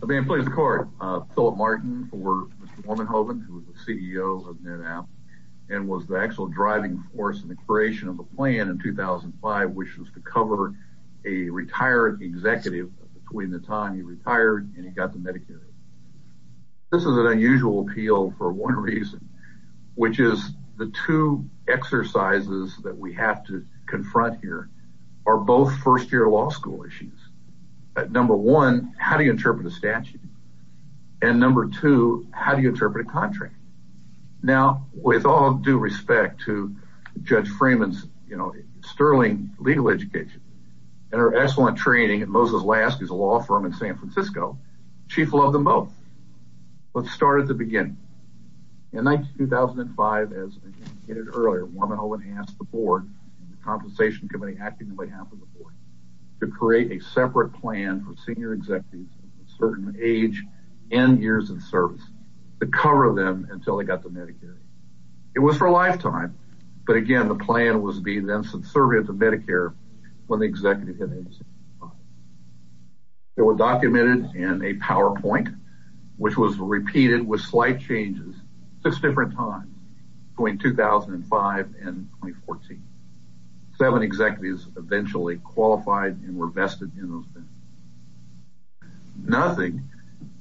I'm being pleased to report Philip Martin for Mr. Warmenhoven, who is the CEO of NetApp and was the actual driving force in the creation of the plan in 2005, which was to cover a retired executive. Between the time he retired and he got the Medicare. This is an unusual appeal for one reason, which is the two exercises that we have to confront here are both first year law school issues. Number one, how do you interpret a statute? And number two, how do you interpret a contract? Now, with all due respect to Judge Freeman's, you know, sterling legal education and her excellent training at Moses Last, who's a law firm in San Francisco. Chief loved them both. Let's start at the beginning. In 2005, as I said earlier, Warmenhoven asked the board and the compensation committee acting on behalf of the board to create a separate plan for senior executives of a certain age and years of service to cover them until they got the Medicare. It was for a lifetime. But again, the plan was to be then subservient to Medicare when the executive hit it. It was documented in a PowerPoint, which was repeated with slight changes six different times between 2005 and 2014. Seven executives eventually qualified and were vested in those. Nothing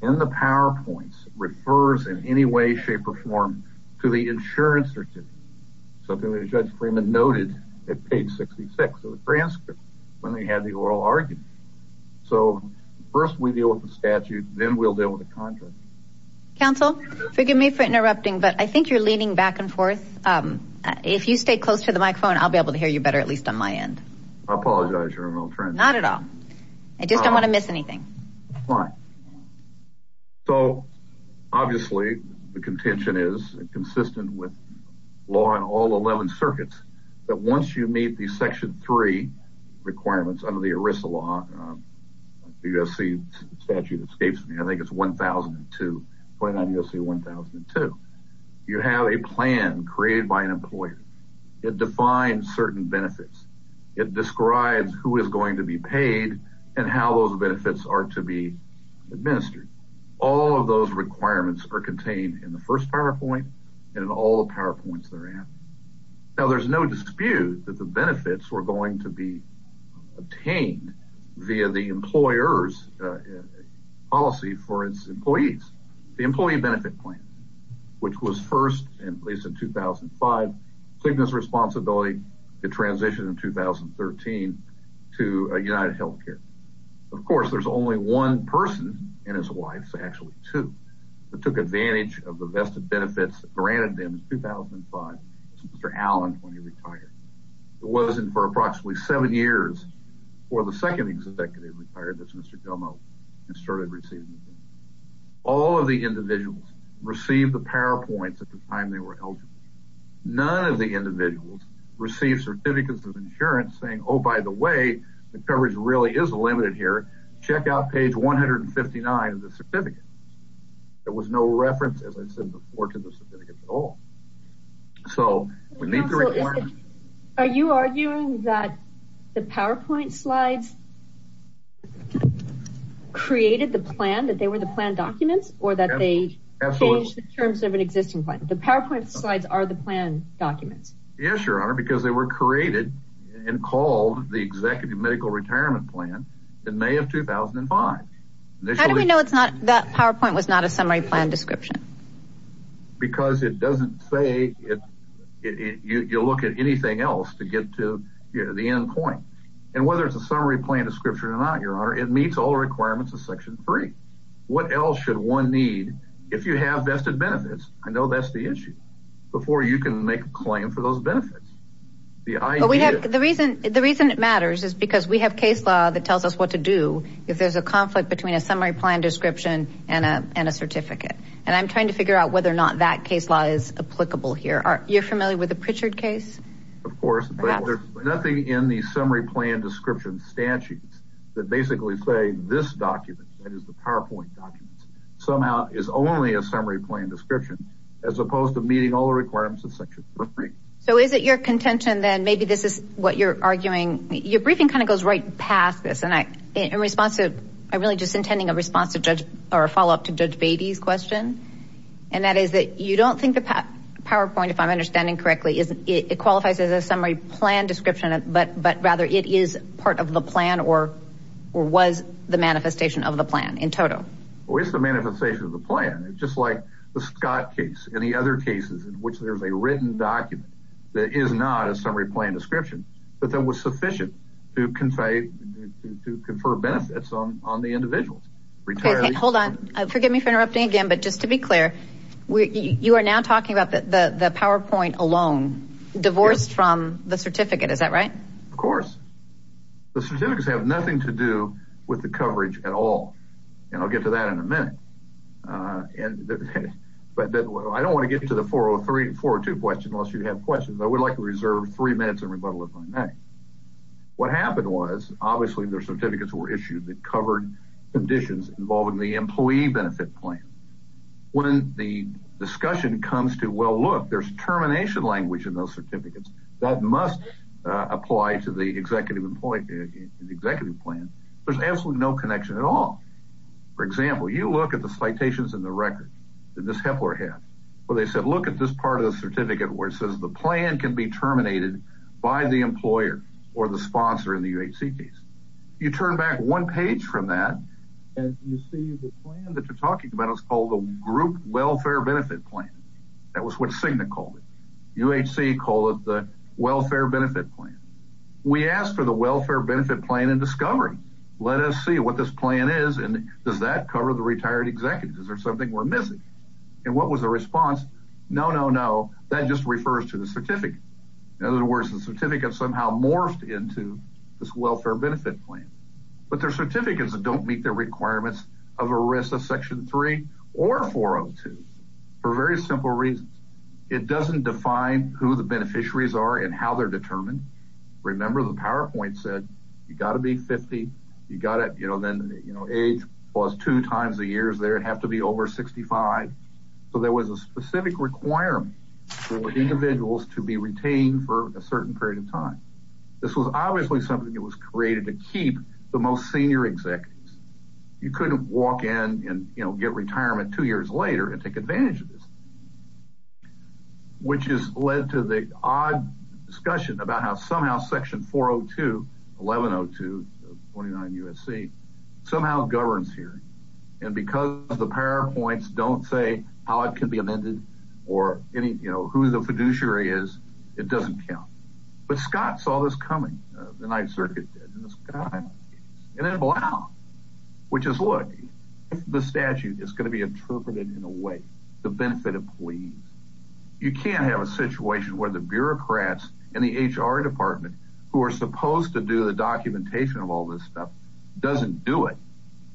in the PowerPoints refers in any way, shape or form to the insurance certificate, something that Judge Freeman noted at page 66 of the transcript when they had the oral argument. So first we deal with the statute, then we'll deal with the contract. Counsel, forgive me for interrupting, but I think you're leaning back and forth. If you stay close to the microphone, I'll be able to hear you better, at least on my end. Not at all. I just don't want to miss anything. It describes who is going to be paid and how those benefits are to be administered. All of those requirements are contained in the first PowerPoint and in all the PowerPoints therein. Now, there's no dispute that the benefits were going to be obtained via the employer's policy for its employees. The employee benefit plan, which was first in place in 2005, took this responsibility to transition in 2013 to UnitedHealthcare. Of course, there's only one person in his wife's, actually two, that took advantage of the vested benefits granted them in 2005, Mr. Allen, when he retired. It wasn't for approximately seven years before the second executive retired, Mr. Domo, and started receiving the benefits. All of the individuals received the PowerPoints at the time they were eligible. None of the individuals received certificates of insurance saying, oh, by the way, the coverage really is limited here. Check out page 159 of the certificates. There was no reference, as I said before, to the certificates at all. Are you arguing that the PowerPoint slides created the plan, that they were the plan documents, or that they changed the terms of an existing plan? The PowerPoint slides are the plan documents. Yes, Your Honor, because they were created and called the executive medical retirement plan in May of 2005. How do we know that PowerPoint was not a summary plan description? Because it doesn't say, you look at anything else to get to the end point. And whether it's a summary plan description or not, Your Honor, it meets all requirements of Section 3. What else should one need if you have vested benefits? I know that's the issue, before you can make a claim for those benefits. The reason it matters is because we have case law that tells us what to do if there's a conflict between a summary plan description and a certificate. And I'm trying to figure out whether or not that case law is applicable here. You're familiar with the Pritchard case? Of course, but there's nothing in the summary plan description statutes that basically say this document, that is the PowerPoint documents, somehow is only a summary plan description, as opposed to meeting all the requirements of Section 3. So is it your contention then, maybe this is what you're arguing, your briefing kind of goes right past this, and in response to, I'm really just intending a response to Judge, or a follow-up to Judge Beatty's question. And that is that you don't think the PowerPoint, if I'm understanding correctly, it qualifies as a summary plan description, but rather it is part of the plan, or was the manifestation of the plan in total? Well, it's the manifestation of the plan, just like the Scott case and the other cases in which there's a written document that is not a summary plan description, but that was sufficient to confer benefits on the individuals. Hold on, forgive me for interrupting again, but just to be clear, you are now talking about the PowerPoint alone, divorced from the certificate, is that right? Of course. The certificates have nothing to do with the coverage at all, and I'll get to that in a minute, but I don't want to get to the 403 and 402 question unless you have questions, I would like to reserve three minutes and rebuttal if I may. What happened was, obviously, the certificates were issued that covered conditions involving the employee benefit plan. When the discussion comes to, well, look, there's termination language in those certificates, that must apply to the executive plan, there's absolutely no connection at all. For example, you look at the citations in the record, in this Hepler head, where they said, look at this part of the certificate where it says the plan can be terminated by the employer or the sponsor in the UHC case. You turn back one page from that, and you see the plan that you're talking about is called the group welfare benefit plan. That was what Cigna called it. UHC called it the welfare benefit plan. We asked for the welfare benefit plan in discovery. Let us see what this plan is, and does that cover the retired executives? Is there something we're missing? And what was the response? No, no, no, that just refers to the certificate. In other words, the certificate somehow morphed into this welfare benefit plan. But there are certificates that don't meet the requirements of a risk of Section 3 or 402 for very simple reasons. It doesn't define who the beneficiaries are and how they're determined. Remember, the PowerPoint said you've got to be 50. You've got to, you know, then age was two times the years there. It'd have to be over 65. So there was a specific requirement for individuals to be retained for a certain period of time. This was obviously something that was created to keep the most senior executives. You couldn't walk in and, you know, get retirement two years later and take advantage of this, which has led to the odd discussion about how somehow Section 402, 1102 of 29 USC, somehow governs here. And because the PowerPoints don't say how it can be amended or any, you know, who the fiduciary is, it doesn't count. But Scott saw this coming, the Ninth Circuit did, and then Blount, which is, look, the statute is going to be interpreted in a way to benefit employees. You can't have a situation where the bureaucrats and the HR department who are supposed to do the documentation of all this stuff doesn't do it,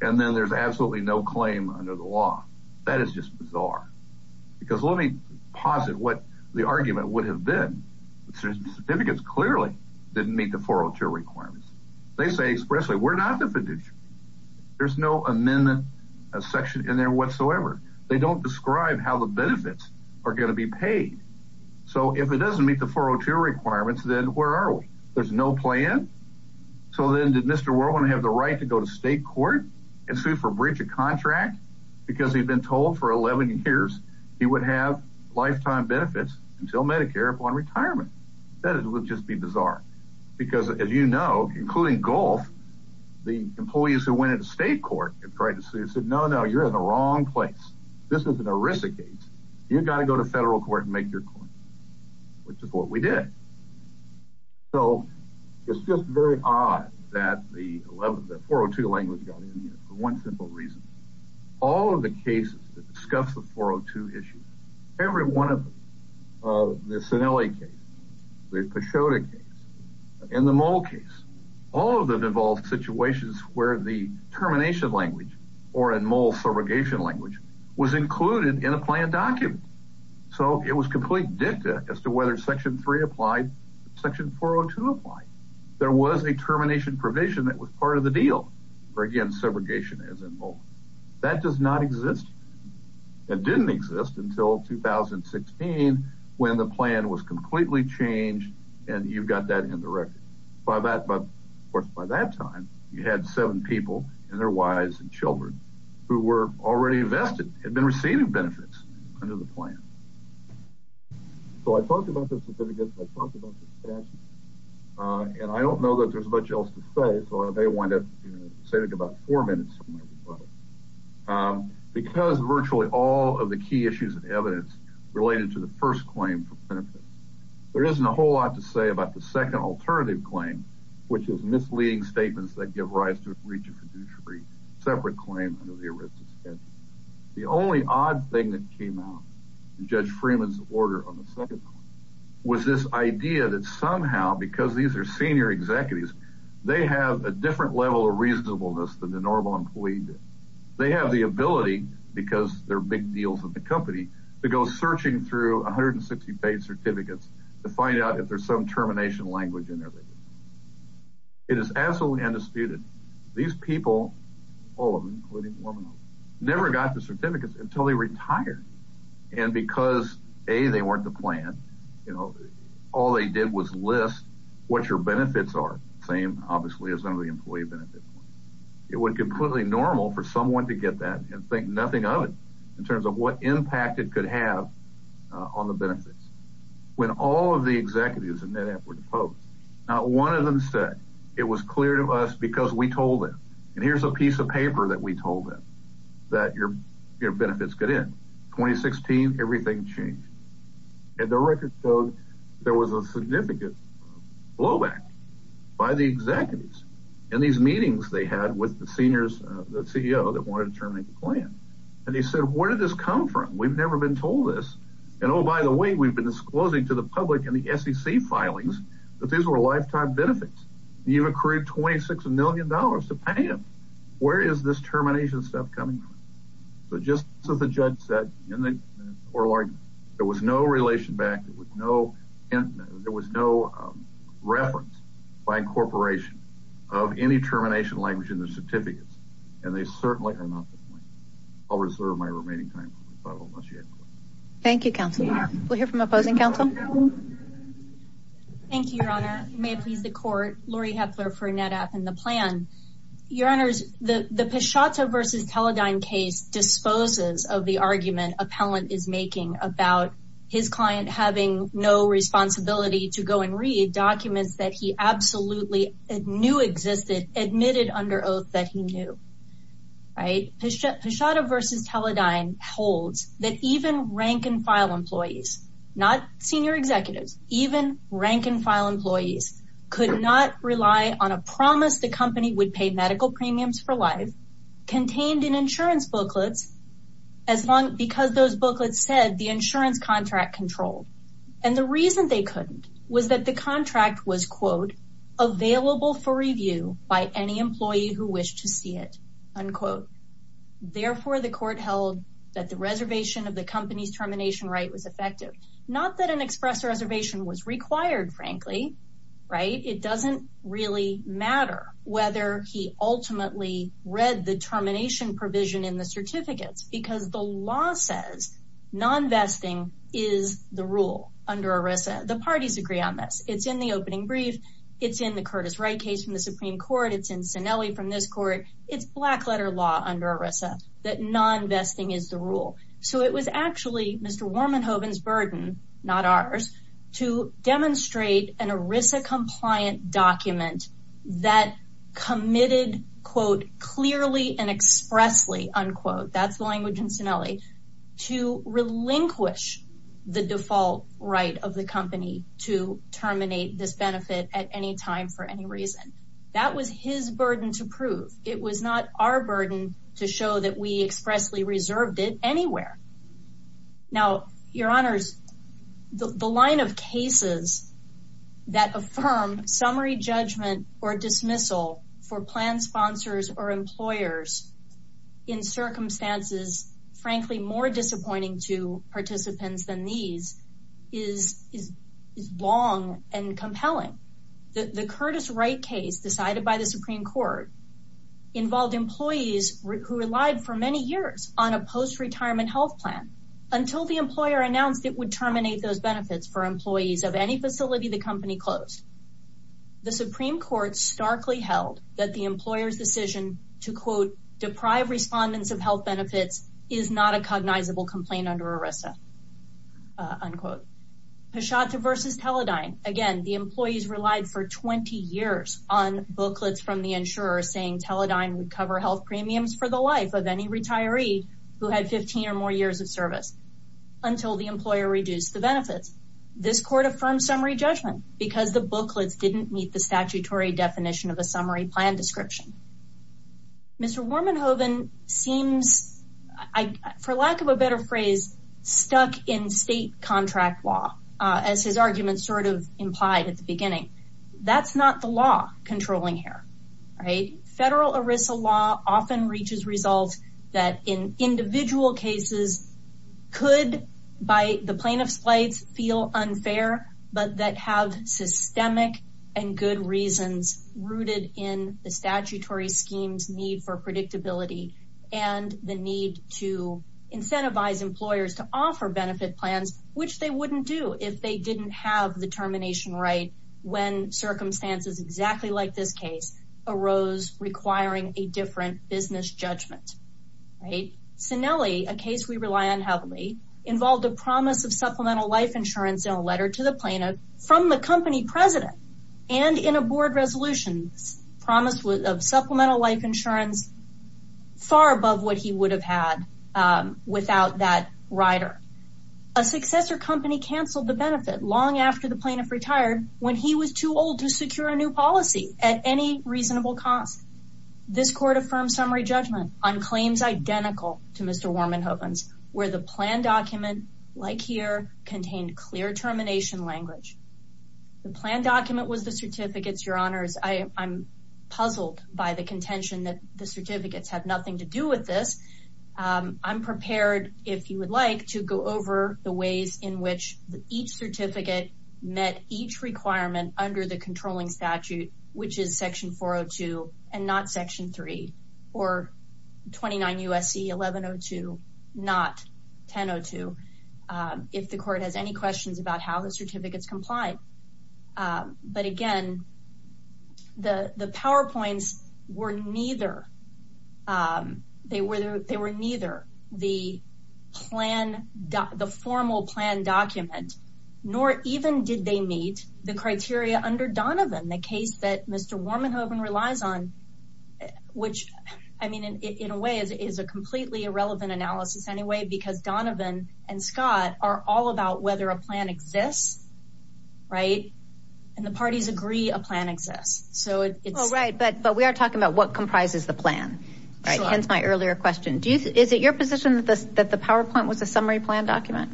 and then there's absolutely no claim under the law. That is just bizarre. Because let me posit what the argument would have been. Certificates clearly didn't meet the 402 requirements. They say expressly, we're not the fiduciary. There's no amendment section in there whatsoever. They don't describe how the benefits are going to be paid. So if it doesn't meet the 402 requirements, then where are we? There's no plan? So then did Mr. Whirlwind have the right to go to state court and sue for breach of contract because he'd been told for 11 years he would have lifetime benefits until Medicare upon retirement? That would just be bizarre. Because as you know, including Gulf, the employees who went into state court and tried to sue said, no, no, you're in the wrong place. This is an ERISA case. You've got to go to federal court and make your point, which is what we did. So it's just very odd that the 402 language got in there for one simple reason. All of the cases that discuss the 402 issue, every one of them, the Sinelli case, the Peixota case, and the mole case, all of them involved situations where the termination language or a mole surrogation language was included in a plan document. So it was complete dicta as to whether Section 3 applied, Section 402 applied. There was a termination provision that was part of the deal for, again, surrogation as involved. That does not exist. It didn't exist until 2016 when the plan was completely changed and you've got that in the record. Of course, by that time, you had seven people and their wives and children who were already vested, had been receiving benefits under the plan. So I talked about the certificates. I talked about the statute. And I don't know that there's much else to say, so I may wind up saving about four minutes on my rebuttal. Because virtually all of the key issues and evidence related to the first claim for benefits, there isn't a whole lot to say about the second alternative claim, which is misleading statements that give rise to a breach of fiduciary separate claim under the arrest of statute. The only odd thing that came out of Judge Freeman's order on the second claim was this idea that somehow, because these are senior executives, they have a different level of reasonableness than the normal employee did. They have the ability, because they're big deals in the company, to go searching through 160 paid certificates to find out if there's some termination language in there. It is absolutely undisputed. These people, all of them, including one of them, never got the certificates until they retired. And because, A, they weren't the plan, you know, all they did was list what your benefits are, same, obviously, as under the employee benefits. It would be completely normal for someone to get that and think nothing of it in terms of what impact it could have on the benefits. When all of the executives in NetApp were deposed, not one of them said, it was clear to us because we told them, and here's a piece of paper that we told them, that your benefits get in. 2016, everything changed. And the record showed there was a significant blowback by the executives in these meetings they had with the seniors, the CEO that wanted to terminate the plan. And they said, where did this come from? We've never been told this. And, oh, by the way, we've been disclosing to the public in the SEC filings that these were lifetime benefits. You've accrued $26 million to pay them. Where is this termination stuff coming from? So just as the judge said in the oral argument, there was no relation back, there was no reference by incorporation of any termination language in the certificates. And they certainly are not the plan. I'll reserve my remaining time. Thank you, counsel. We'll hear from opposing counsel. Thank you, Your Honor. May it please the court. Laurie Hepler for NetApp and the plan. Your Honors, the Pashata versus Teledyne case disposes of the argument appellant is making about his client having no responsibility to go and read documents that he absolutely knew existed, admitted under oath that he knew. Pashata versus Teledyne holds that even rank and file employees, not senior executives, even rank and file employees could not rely on a promise the company would pay medical premiums for life contained in insurance booklets because those booklets said the insurance contract controlled. And the reason they couldn't was that the contract was, quote, available for review by any employee who wished to see it, unquote. Therefore, the court held that the reservation of the company's termination right was effective. Not that an express reservation was required, frankly. Right. It doesn't really matter whether he ultimately read the termination provision in the certificates because the law says nonvesting is the rule under Arisa. The parties agree on this. It's in the opening brief. It's in the Curtis Wright case from the Supreme Court. It's in Sinelli from this court. It's black letter law under Arisa that nonvesting is the rule. So it was actually Mr. Wormenhoven's burden, not ours, to demonstrate an Arisa compliant document that committed, quote, clearly and expressly, unquote, that's the language in Sinelli, to relinquish the default right of the company to terminate this benefit at any time for any reason. That was his burden to prove. It was not our burden to show that we expressly reserved it anywhere. Now, your honors, the line of cases that affirm summary judgment or dismissal for plan sponsors or employers in circumstances, frankly, more disappointing to participants than these is long and compelling. The Curtis Wright case decided by the Supreme Court involved employees who relied for many years on a post-retirement health plan until the employer announced it would terminate those benefits for employees of any facility the company closed. The Supreme Court starkly held that the employer's decision to, quote, deprive respondents of health benefits is not a cognizable complaint under Arisa, unquote. Pashata versus Teledyne, again, the employees relied for 20 years on booklets from the insurer saying Teledyne would cover health premiums for the life of any retiree who had 15 or more years of service until the employer reduced the benefits. This Court affirmed summary judgment because the booklets didn't meet the statutory definition of a summary plan description. Mr. Warmanhoven seems, for lack of a better phrase, stuck in state contract law, as his argument sort of implied at the beginning. That's not the law controlling here, right? Federal Arisa law often reaches results that in individual cases could, by the plaintiff's plight, feel unfair, but that have systemic and good reasons rooted in the statutory scheme's need for predictability and the need to incentivize employers to offer benefit plans, which they wouldn't do if they didn't have the termination right when circumstances exactly like this case arose requiring a different business judgment. Cinelli, a case we rely on heavily, involved a promise of supplemental life insurance in a letter to the plaintiff from the company president and in a board resolution promise of supplemental life insurance far above what he would have had without that rider. A successor company canceled the benefit long after the plaintiff retired when he was too old to secure a new policy at any reasonable cost. This Court affirmed summary judgment on claims identical to Mr. Warmanhoven's, where the plan document, like here, contained clear termination language. The plan document was the certificates, Your Honors. I'm puzzled by the contention that the certificates have nothing to do with this. I'm prepared, if you would like, to go over the ways in which each certificate met each requirement under the controlling statute, which is Section 402 and not Section 3, or 29 U.S.C. 1102, not 1002. If the Court has any questions about how the certificates comply. But again, the PowerPoints were neither the formal plan document, nor even did they meet the criteria under Donovan, the case that Mr. Warmanhoven relies on, which, I mean, in a way, is a completely irrelevant analysis anyway, because Donovan and Scott are all about whether a plan exists, right? And the parties agree a plan exists. Right, but we are talking about what comprises the plan, hence my earlier question. Is it your position that the PowerPoint was a summary plan document?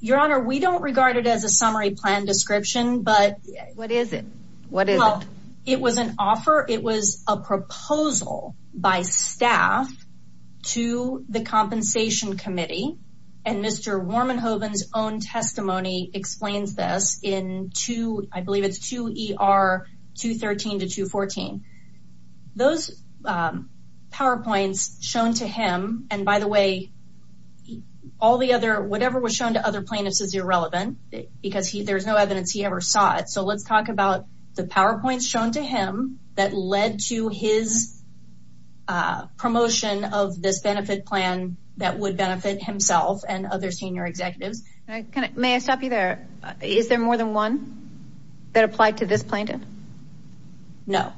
Your Honor, we don't regard it as a summary plan description. What is it? Well, it was an offer, it was a proposal by staff to the Compensation Committee. And Mr. Warmanhoven's own testimony explains this in 2, I believe it's 2 ER 213 to 214. Those PowerPoints shown to him, and by the way, all the other, whatever was shown to other plaintiffs is irrelevant, because there's no evidence he ever saw it. So let's talk about the PowerPoints shown to him that led to his promotion of this benefit plan that would benefit himself and other senior executives. May I stop you there? Is there more than one that applied to this plaintiff? No.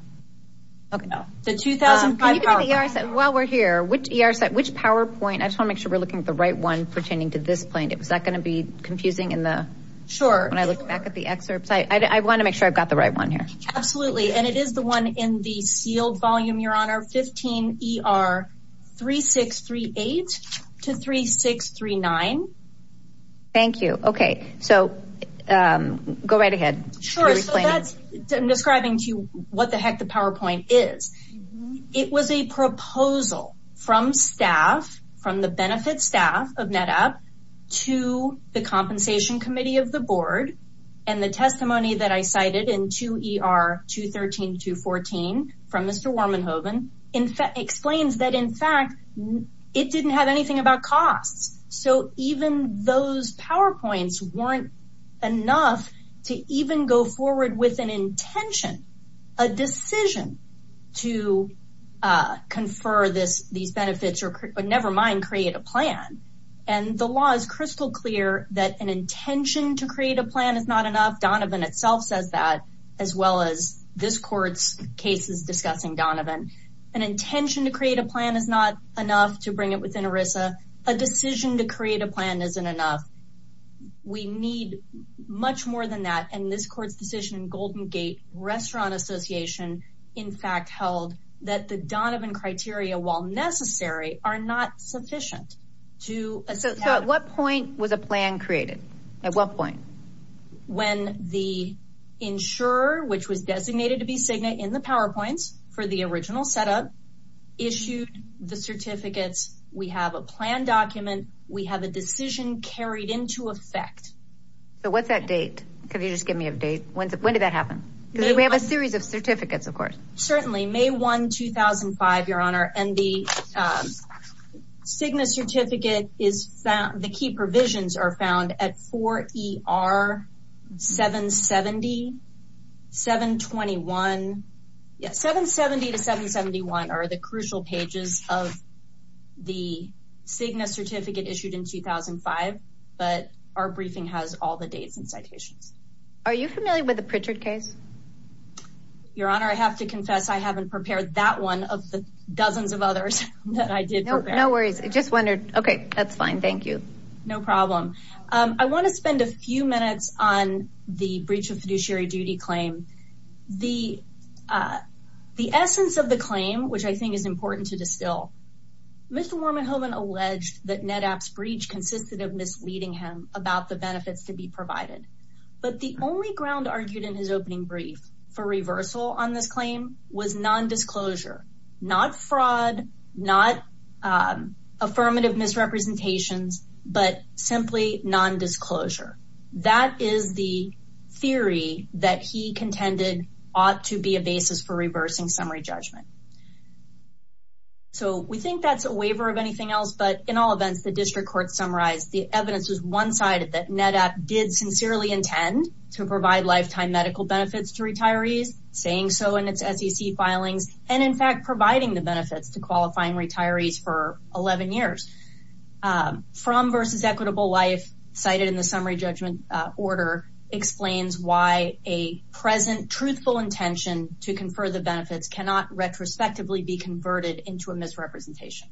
Okay. The 2005 PowerPoint. While we're here, which PowerPoint, I just want to make sure we're looking at the right one pertaining to this plaintiff. Is that going to be confusing when I look back at the excerpts? I want to make sure I've got the right one here. Absolutely. And it is the one in the sealed volume, Your Honor, 15 ER 3638 to 3639. Thank you. Okay. So go right ahead. Sure. I'm describing to you what the heck the PowerPoint is. It was a proposal from staff, from the benefit staff of NetApp to the compensation committee of the board. And the testimony that I cited in 2 ER 213 to 214 from Mr. Warmanhoven explains that, in fact, it didn't have anything about costs. So even those PowerPoints weren't enough to even go forward with an intention, a decision to confer these benefits or, never mind, create a plan. And the law is crystal clear that an intention to create a plan is not enough. Donovan itself says that, as well as this court's cases discussing Donovan. An intention to create a plan is not enough to bring it within ERISA. A decision to create a plan isn't enough. We need much more than that. And this court's decision in Golden Gate Restaurant Association, in fact, held that the Donovan criteria, while necessary, are not sufficient. So at what point was a plan created? At what point? When the insurer, which was designated to be Cigna in the PowerPoints for the original setup, issued the certificates. We have a plan document. We have a decision carried into effect. So what's that date? Could you just give me a date? When did that happen? Because we have a series of certificates, of course. Certainly. May 1, 2005, Your Honor. And the Cigna certificate, the key provisions are found at 4ER770, 721. Yeah, 770 to 771 are the crucial pages of the Cigna certificate issued in 2005. But our briefing has all the dates and citations. Are you familiar with the Pritchard case? Your Honor, I have to confess I haven't prepared that one of the dozens of others that I did prepare. No worries. I just wondered. Okay, that's fine. Thank you. No problem. I want to spend a few minutes on the breach of fiduciary duty claim. The essence of the claim, which I think is important to distill, Mr. Wormenhoven alleged that NetApp's breach consisted of misleading him about the benefits to be provided. But the only ground argued in his opening brief for reversal on this claim was nondisclosure. Not fraud, not affirmative misrepresentations, but simply nondisclosure. That is the theory that he contended ought to be a basis for reversing summary judgment. So we think that's a waiver of anything else. But in all events, the district court summarized the evidence was one-sided that NetApp did sincerely intend to provide lifetime medical benefits to retirees, saying so in its SEC filings, and in fact providing the benefits to qualifying retirees for 11 years. From versus equitable life cited in the summary judgment order explains why a present truthful intention to confer the benefits cannot retrospectively be converted into a misrepresentation.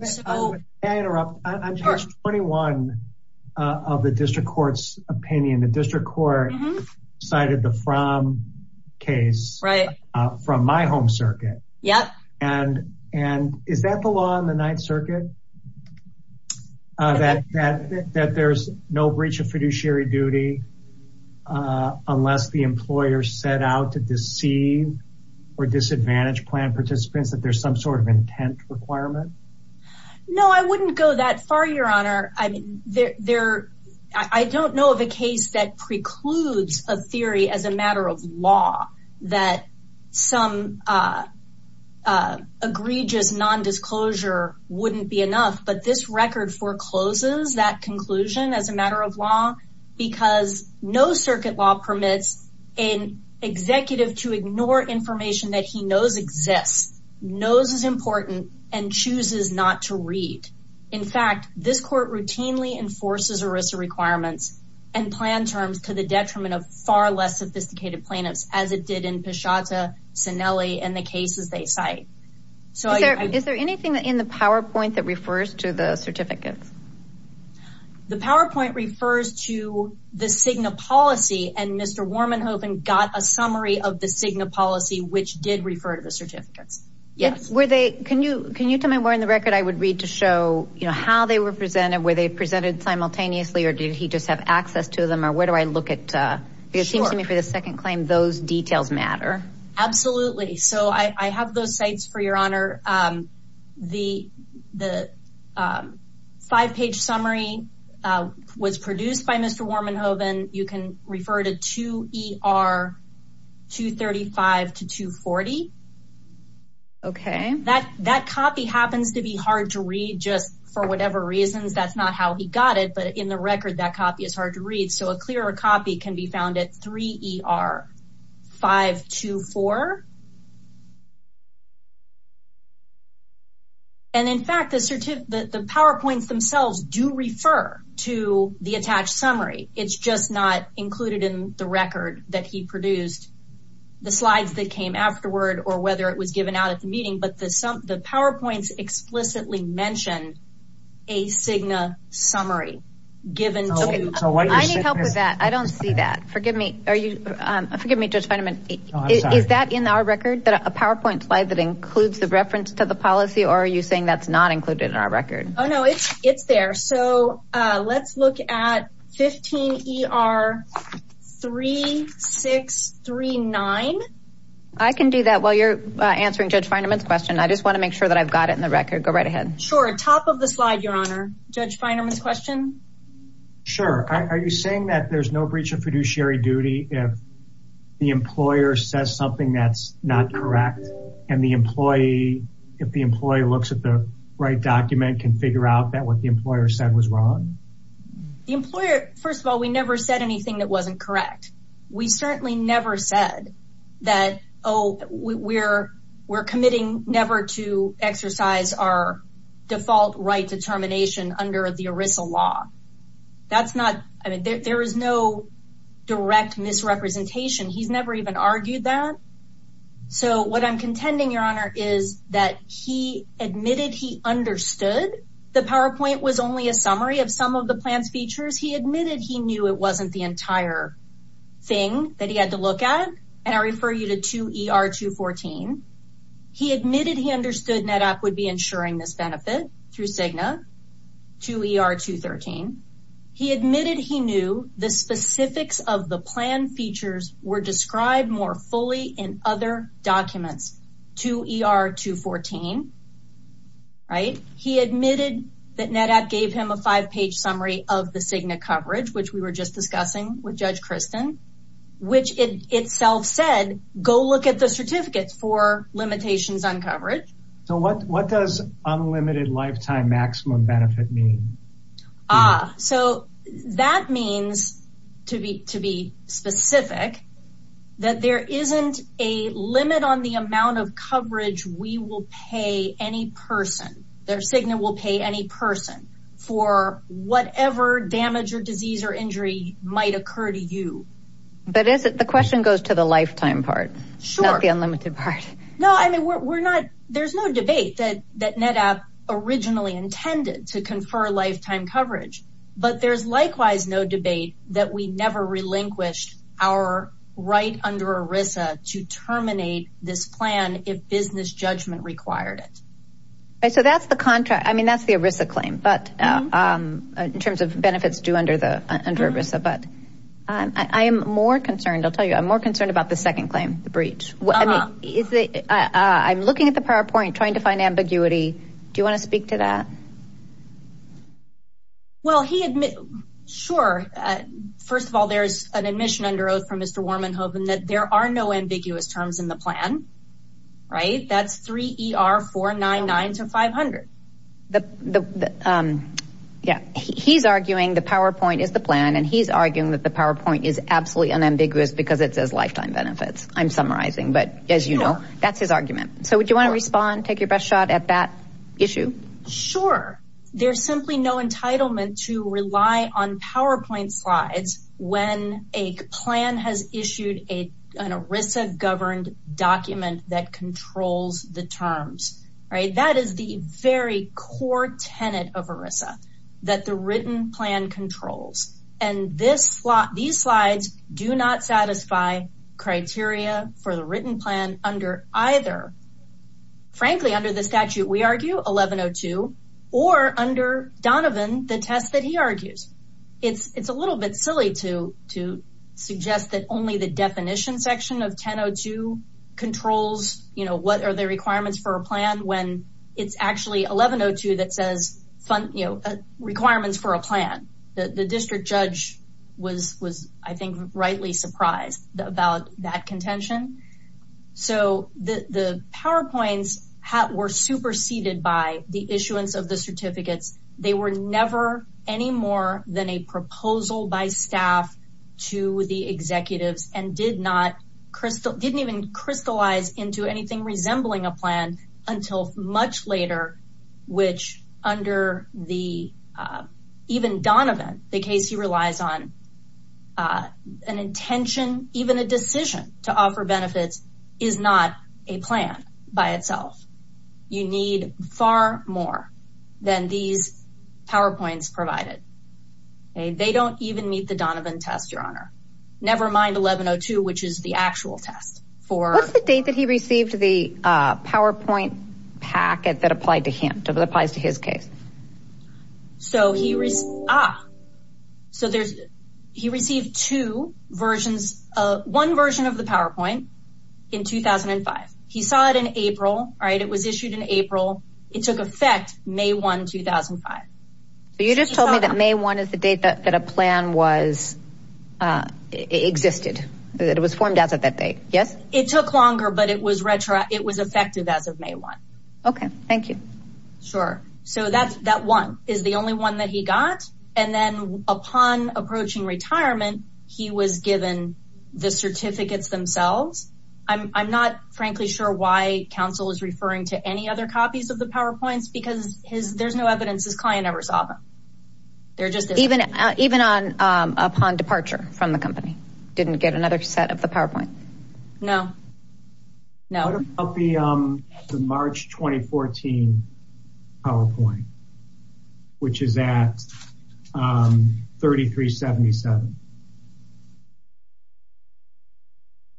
Can I interrupt? On page 21 of the district court's opinion, the district court cited the From case from my home circuit. And is that the law in the Ninth Circuit, that there's no breach of fiduciary duty unless the employer set out to deceive or disadvantage plan participants, that there's some sort of intent requirement? No, I wouldn't go that far, Your Honor. I don't know of a case that precludes a theory as a matter of law that some egregious nondisclosure wouldn't be enough. But this record forecloses that conclusion as a matter of law, because no circuit law permits an executive to ignore information that he knows exists, knows is important, and chooses not to read. In fact, this court routinely enforces ERISA requirements and plan terms to the detriment of far less sophisticated plaintiffs, as it did in Pashata, Sinelli, and the cases they cite. Is there anything in the PowerPoint that refers to the certificates? The PowerPoint refers to the Cigna policy, and Mr. Warmanhoven got a summary of the Cigna policy, which did refer to the certificates. Can you tell me where in the record I would read to show how they were presented, were they presented simultaneously, or did he just have access to them, or where do I look at? Because it seems to me for the second claim, those details matter. Absolutely. So I have those sites, for your honor. The five-page summary was produced by Mr. Warmanhoven. You can refer to 2 ER 235 to 240. Okay. That copy happens to be hard to read, just for whatever reasons. That's not how he got it, but in the record, that copy is hard to read. So a clearer copy can be found at 3 ER 524. And in fact, the PowerPoints themselves do refer to the attached summary. It's just not included in the record that he produced. The slides that came afterward, or whether it was given out at the meeting, but the PowerPoints explicitly mention a Cigna summary. I need help with that. I don't see that. Forgive me, Judge Feinerman. Is that in our record, a PowerPoint slide that includes the reference to the policy, or are you saying that's not included in our record? Oh, no, it's there. So let's look at 15 ER 3639. I can do that while you're answering Judge Feinerman's question. I just want to make sure that I've got it in the record. Go right ahead. Sure. Top of the slide, Your Honor. Judge Feinerman's question. Sure. Are you saying that there's no breach of fiduciary duty if the employer says something that's not correct? And the employee, if the employee looks at the right document, can figure out that what the employer said was wrong? The employer, first of all, we never said anything that wasn't correct. We certainly never said that, oh, we're committing never to exercise our default right to termination under the ERISA law. That's not, I mean, there is no direct misrepresentation. He's never even argued that. So what I'm contending, Your Honor, is that he admitted he understood the PowerPoint was only a summary of some of the plan's features. He admitted he knew it wasn't the entire thing that he had to look at. And I refer you to 2ER214. He admitted he understood NetApp would be ensuring this benefit through Cigna, 2ER213. He admitted he knew the specifics of the plan features were described more fully in other documents, 2ER214, right? He admitted that NetApp gave him a five-page summary of the Cigna coverage, which we were just discussing with Judge Kristen, which itself said, go look at the certificates for limitations on coverage. So what does unlimited lifetime maximum benefit mean? Ah, so that means, to be specific, that there isn't a limit on the amount of coverage we will pay any person. Their Cigna will pay any person for whatever damage or disease or injury might occur to you. But the question goes to the lifetime part. Sure. Not the unlimited part. No, I mean, there's no debate that NetApp originally intended to confer lifetime coverage. But there's likewise no debate that we never relinquished our right under ERISA to terminate this plan if business judgment required it. So that's the contract. I mean, that's the ERISA claim, but in terms of benefits due under ERISA. But I am more concerned. I'll tell you, I'm more concerned about the second claim, the breach. I'm looking at the PowerPoint, trying to find ambiguity. Do you want to speak to that? Well, sure. First of all, there's an admission under oath from Mr. Warmanhoven that there are no ambiguous terms in the plan, right? That's 3 ER 499 to 500. He's arguing the PowerPoint is the plan, and he's arguing that the PowerPoint is absolutely unambiguous because it says lifetime benefits. I'm summarizing, but as you know, that's his argument. So would you want to respond, take your best shot at that issue? Sure. There's simply no entitlement to rely on PowerPoint slides when a plan has issued an ERISA governed document that controls the terms, right? That is the very core tenet of ERISA, that the written plan controls. And these slides do not satisfy criteria for the written plan under either. Frankly, under the statute, we argue 1102 or under Donovan, the test that he argues. It's a little bit silly to suggest that only the definition section of 1002 controls. You know, what are the requirements for a plan when it's actually 1102 that says requirements for a plan? The district judge was, I think, rightly surprised about that contention. So the PowerPoints were superseded by the issuance of the certificates. They were never any more than a proposal by staff to the executives and didn't even crystallize into anything resembling a plan until much later, which under even Donovan, the case he relies on, an intention, even a decision to offer benefits is not a plan by itself. You need far more than these PowerPoints provided. They don't even meet the Donovan test, Your Honor. Never mind 1102, which is the actual test. What's the date that he received the PowerPoint packet that applies to his case? So he received two versions, one version of the PowerPoint in 2005. He saw it in April. It was issued in April. It took effect May 1, 2005. So you just told me that May 1 is the date that a plan was existed, that it was formed as of that date. Yes, it took longer, but it was retro. It was effective as of May 1. OK, thank you. Sure. So that's that one is the only one that he got. And then upon approaching retirement, he was given the certificates themselves. I'm not frankly sure why counsel is referring to any other copies of the PowerPoints because there's no evidence his client ever saw them. They're just even even upon departure from the company, didn't get another set of the PowerPoint. No, no. The March 2014 PowerPoint, which is at 3377.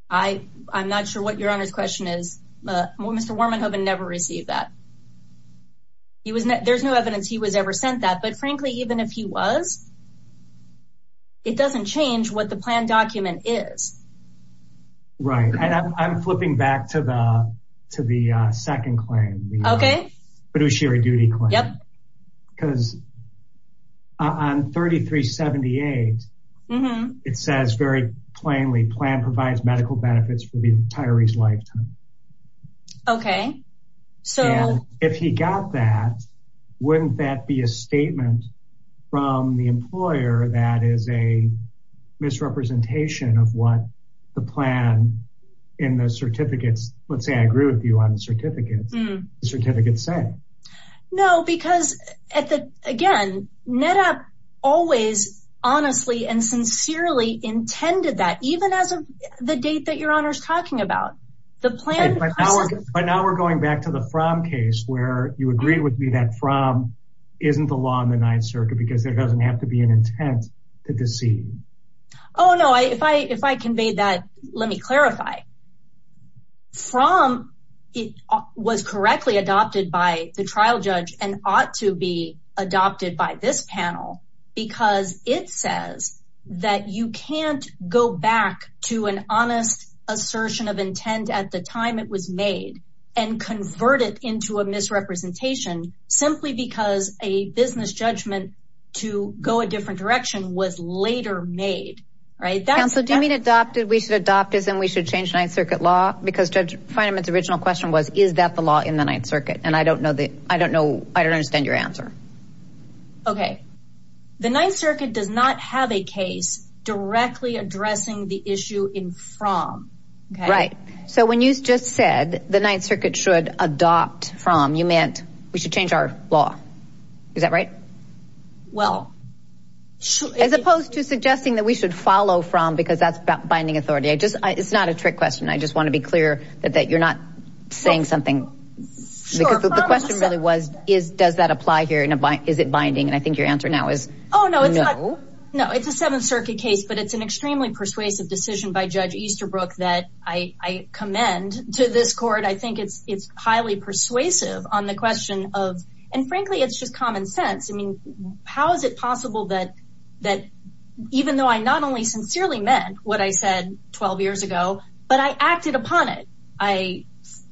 I I'm not sure what your honor's question is. Well, Mr. Warman, I've never received that. He was there's no evidence he was ever sent that. But frankly, even if he was. It doesn't change what the plan document is. Right. I'm flipping back to the to the second claim. OK. But it was sheer duty. Yep. Because I'm 3378. Mm hmm. It says very plainly plan provides medical benefits for the retirees lifetime. OK, so if he got that. Wouldn't that be a statement from the employer? That is a misrepresentation of what the plan in the certificates. Let's say I agree with you on the certificates. Certificates say no, because at the again, NetApp always honestly and sincerely intended that even as of the date that your honor's talking about the plan. But now we're going back to the from case where you agreed with me that from isn't the law in the Ninth Circuit because there doesn't have to be an intent to deceive. Oh, no. If I if I conveyed that, let me clarify. From it was correctly adopted by the trial judge and ought to be adopted by this panel because it says that you can't go back to an honest assertion of intent at the time it was made and convert it into a misrepresentation simply because a business judgment to go a different direction was later made. Right. So do you mean adopted? We should adopt this and we should change Ninth Circuit law? Because judge Feynman's original question was, is that the law in the Ninth Circuit? And I don't know that. I don't know. I don't understand your answer. OK, the Ninth Circuit does not have a case directly addressing the issue in from. Right. So when you just said the Ninth Circuit should adopt from you meant we should change our law. Is that right? Well, as opposed to suggesting that we should follow from because that's binding authority, I just it's not a trick question. I just want to be clear that that you're not saying something because the question really was, is does that apply here? And is it binding? And I think your answer now is, oh, no, no, no. It's a Seventh Circuit case, but it's an extremely persuasive decision by Judge Easterbrook that I commend to this court. I think it's it's highly persuasive on the question of and frankly, it's just common sense. I mean, how is it possible that that even though I not only sincerely meant what I said 12 years ago, but I acted upon it. I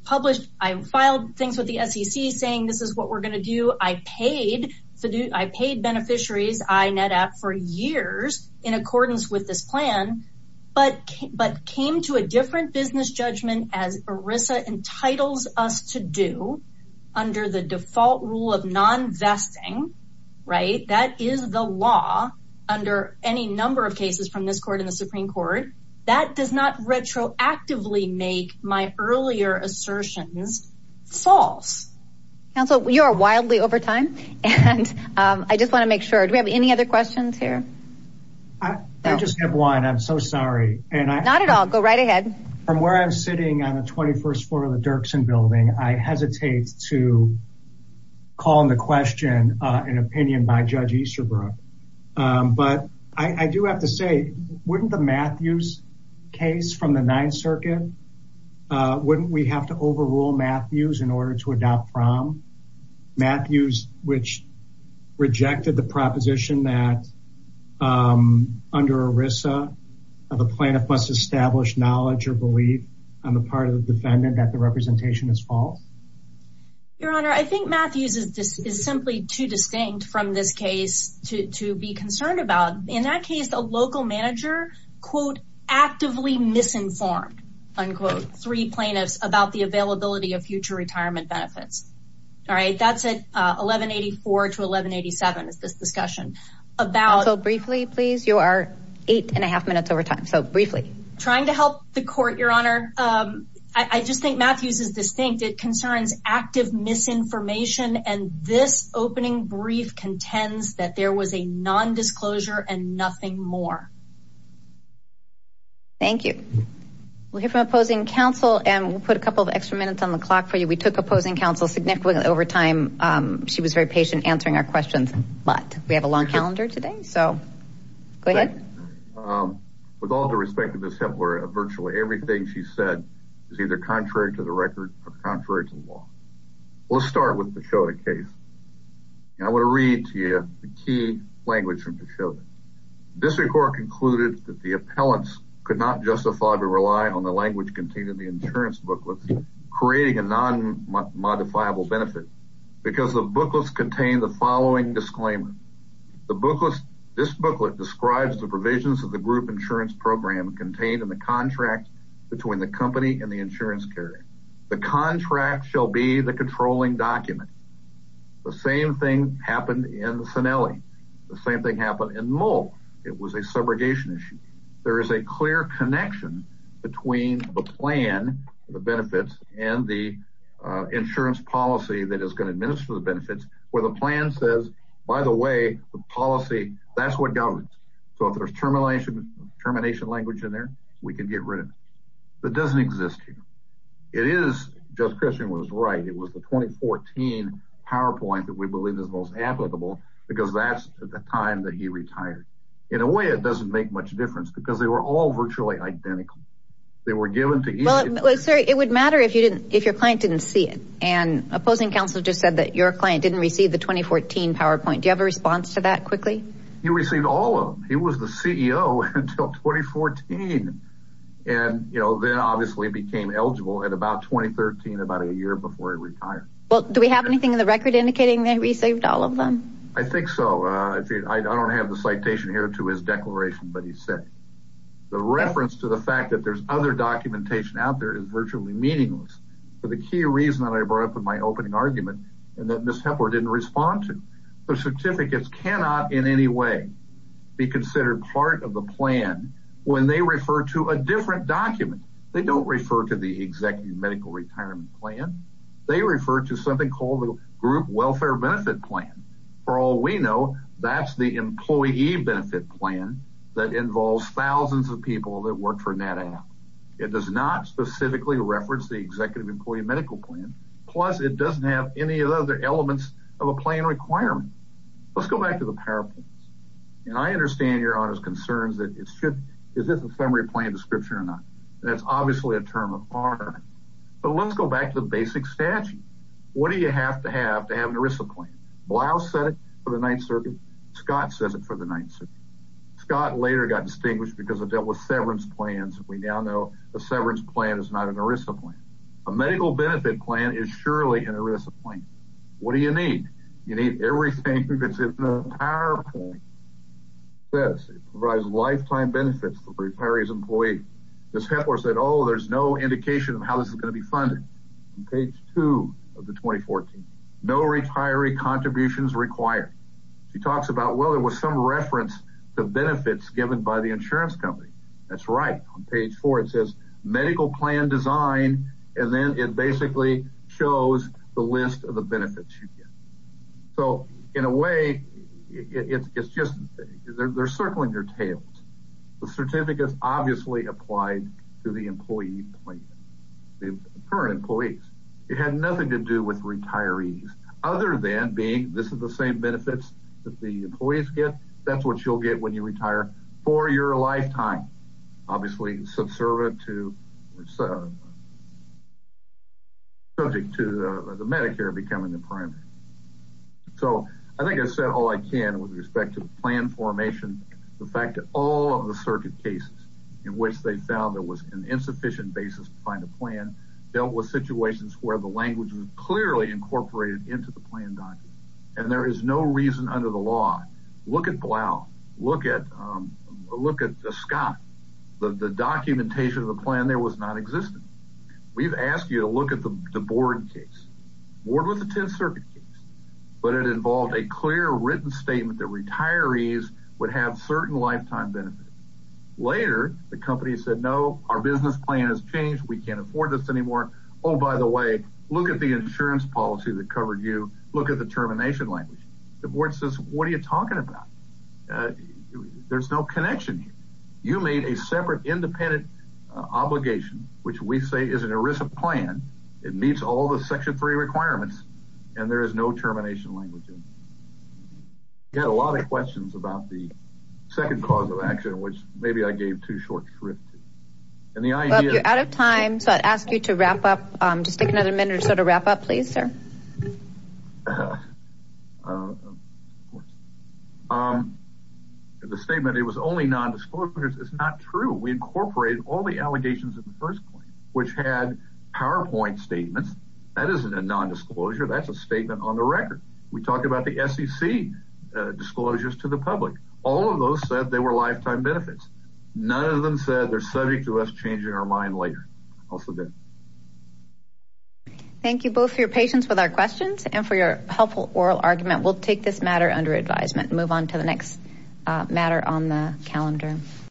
published I filed things with the SEC saying this is what we're going to do. I paid to do I paid beneficiaries. I net up for years in accordance with this plan. But but came to a different business judgment as Arisa entitles us to do under the default rule of nonvesting. Right. That is the law under any number of cases from this court in the Supreme Court. That does not retroactively make my earlier assertions false. So you are wildly over time. And I just want to make sure we have any other questions here. I just have one. I'm so sorry. And I'm not at all. Go right ahead from where I'm sitting on the 21st floor of the Dirksen building. I hesitate to call the question an opinion by Judge Easterbrook. But I do have to say, wouldn't the Matthews case from the Ninth Circuit? Wouldn't we have to overrule Matthews in order to adopt from Matthews, which rejected the proposition that under Arisa, the plaintiff must establish knowledge or belief on the part of the defendant that the representation is false? Your Honor, I think Matthews is simply too distinct from this case to be concerned about. In that case, the local manager, quote, actively misinformed, unquote, three plaintiffs about the availability of future retirement benefits. All right. That's it. 1184 to 1187. It's this discussion about. So briefly, please. You are eight and a half minutes over time. So briefly trying to help the court, Your Honor. I just think Matthews is distinct. It concerns active misinformation. And this opening brief contends that there was a nondisclosure and nothing more. Thank you. We'll hear from opposing counsel and we'll put a couple of extra minutes on the clock for you. We took opposing counsel significantly over time. She was very patient answering our questions. But we have a long calendar today. So go ahead. With all due respect to Ms. Hitler, virtually everything she said is either contrary to the record or contrary to the law. We'll start with the case. I want to read to you the key language from the show. District Court concluded that the appellants could not justify to rely on the language contained in the insurance booklets, creating a non-modifiable benefit because the booklets contain the following disclaimer. The booklets. This booklet describes the provisions of the group insurance program contained in the contract between the company and the insurance carrier. The contract shall be the controlling document. The same thing happened in Sinelli. The same thing happened in Mole. It was a subrogation issue. There is a clear connection between the plan, the benefits and the insurance policy that is going to administer the benefits where the plan says, by the way, the policy. That's what governs. So if there's termination, termination language in there, we can get rid of it. It is just Christian was right. It was the 2014 PowerPoint that we believe is most applicable because that's the time that he retired. In a way, it doesn't make much difference because they were all virtually identical. They were given to you. It would matter if you didn't if your client didn't see it. And opposing counsel just said that your client didn't receive the 2014 PowerPoint. Do you have a response to that quickly? You received all of him. He was the CEO until 2014 and then obviously became eligible at about 2013, about a year before he retired. Do we have anything in the record indicating that we saved all of them? I think so. I don't have the citation here to his declaration, but he said the reference to the fact that there's other documentation out there is virtually meaningless. But the key reason that I brought up in my opening argument and that Mr. Hepler didn't respond to the certificates cannot in any way be considered part of the plan when they refer to a different document. They don't refer to the executive medical retirement plan. They refer to something called the group welfare benefit plan. For all we know, that's the employee benefit plan that involves thousands of people that work for NetApp. It does not specifically reference the executive employee medical plan. Plus, it doesn't have any of the other elements of a plan requirement. Let's go back to the PowerPoint. And I understand your honors concerns that it should. Is this a summary plan description or not? That's obviously a term of honor. But let's go back to the basic statute. What do you have to have to have an ERISA plan? Blouse said it for the Ninth Circuit. Scott says it for the Ninth Circuit. Scott later got distinguished because it dealt with severance plans. We now know a severance plan is not an ERISA plan. A medical benefit plan is surely an ERISA plan. What do you need? You need everything that's in the PowerPoint. It provides lifetime benefits for the retiree's employee. Ms. Hepler said, oh, there's no indication of how this is going to be funded. On page two of the 2014, no retiree contributions required. She talks about, well, there was some reference to benefits given by the insurance company. That's right. On page four, it says medical plan design. And then it basically shows the list of the benefits you get. So, in a way, it's just they're circling their tails. The certificates obviously applied to the employee plan. The current employees. It had nothing to do with retirees. Other than being, this is the same benefits that the employees get. That's what you'll get when you retire for your lifetime. Obviously, subservient to the Medicare becoming the primary. So, I think I've said all I can with respect to plan formation. The fact that all of the circuit cases in which they found there was an insufficient basis to find a plan, dealt with situations where the language was clearly incorporated into the plan document. And there is no reason under the law, look at Blau, look at Scott. The documentation of the plan there was not existing. We've asked you to look at the board case. The board was a ten circuit case. But it involved a clear written statement that retirees would have certain lifetime benefits. Later, the company said, no, our business plan has changed. We can't afford this anymore. Oh, by the way, look at the insurance policy that covered you. Look at the termination language. The board says, what are you talking about? There's no connection here. You made a separate independent obligation, which we say is an ERISA plan. It meets all the section three requirements. And there is no termination language in it. We had a lot of questions about the second cause of action, which maybe I gave too short a trip to. Bob, you're out of time, so I'd ask you to wrap up. Just take another minute or so to wrap up, please, sir. The statement, it was only nondisclosures, is not true. We incorporated all the allegations in the first claim, which had PowerPoint statements. That isn't a nondisclosure. That's a statement on the record. We talked about the SEC disclosures to the public. All of those said they were lifetime benefits. None of them said they're subject to us changing our mind later. Also good. Thank you both for your patience with our questions and for your helpful oral argument. We'll take this matter under advisement and move on to the next matter on the calendar.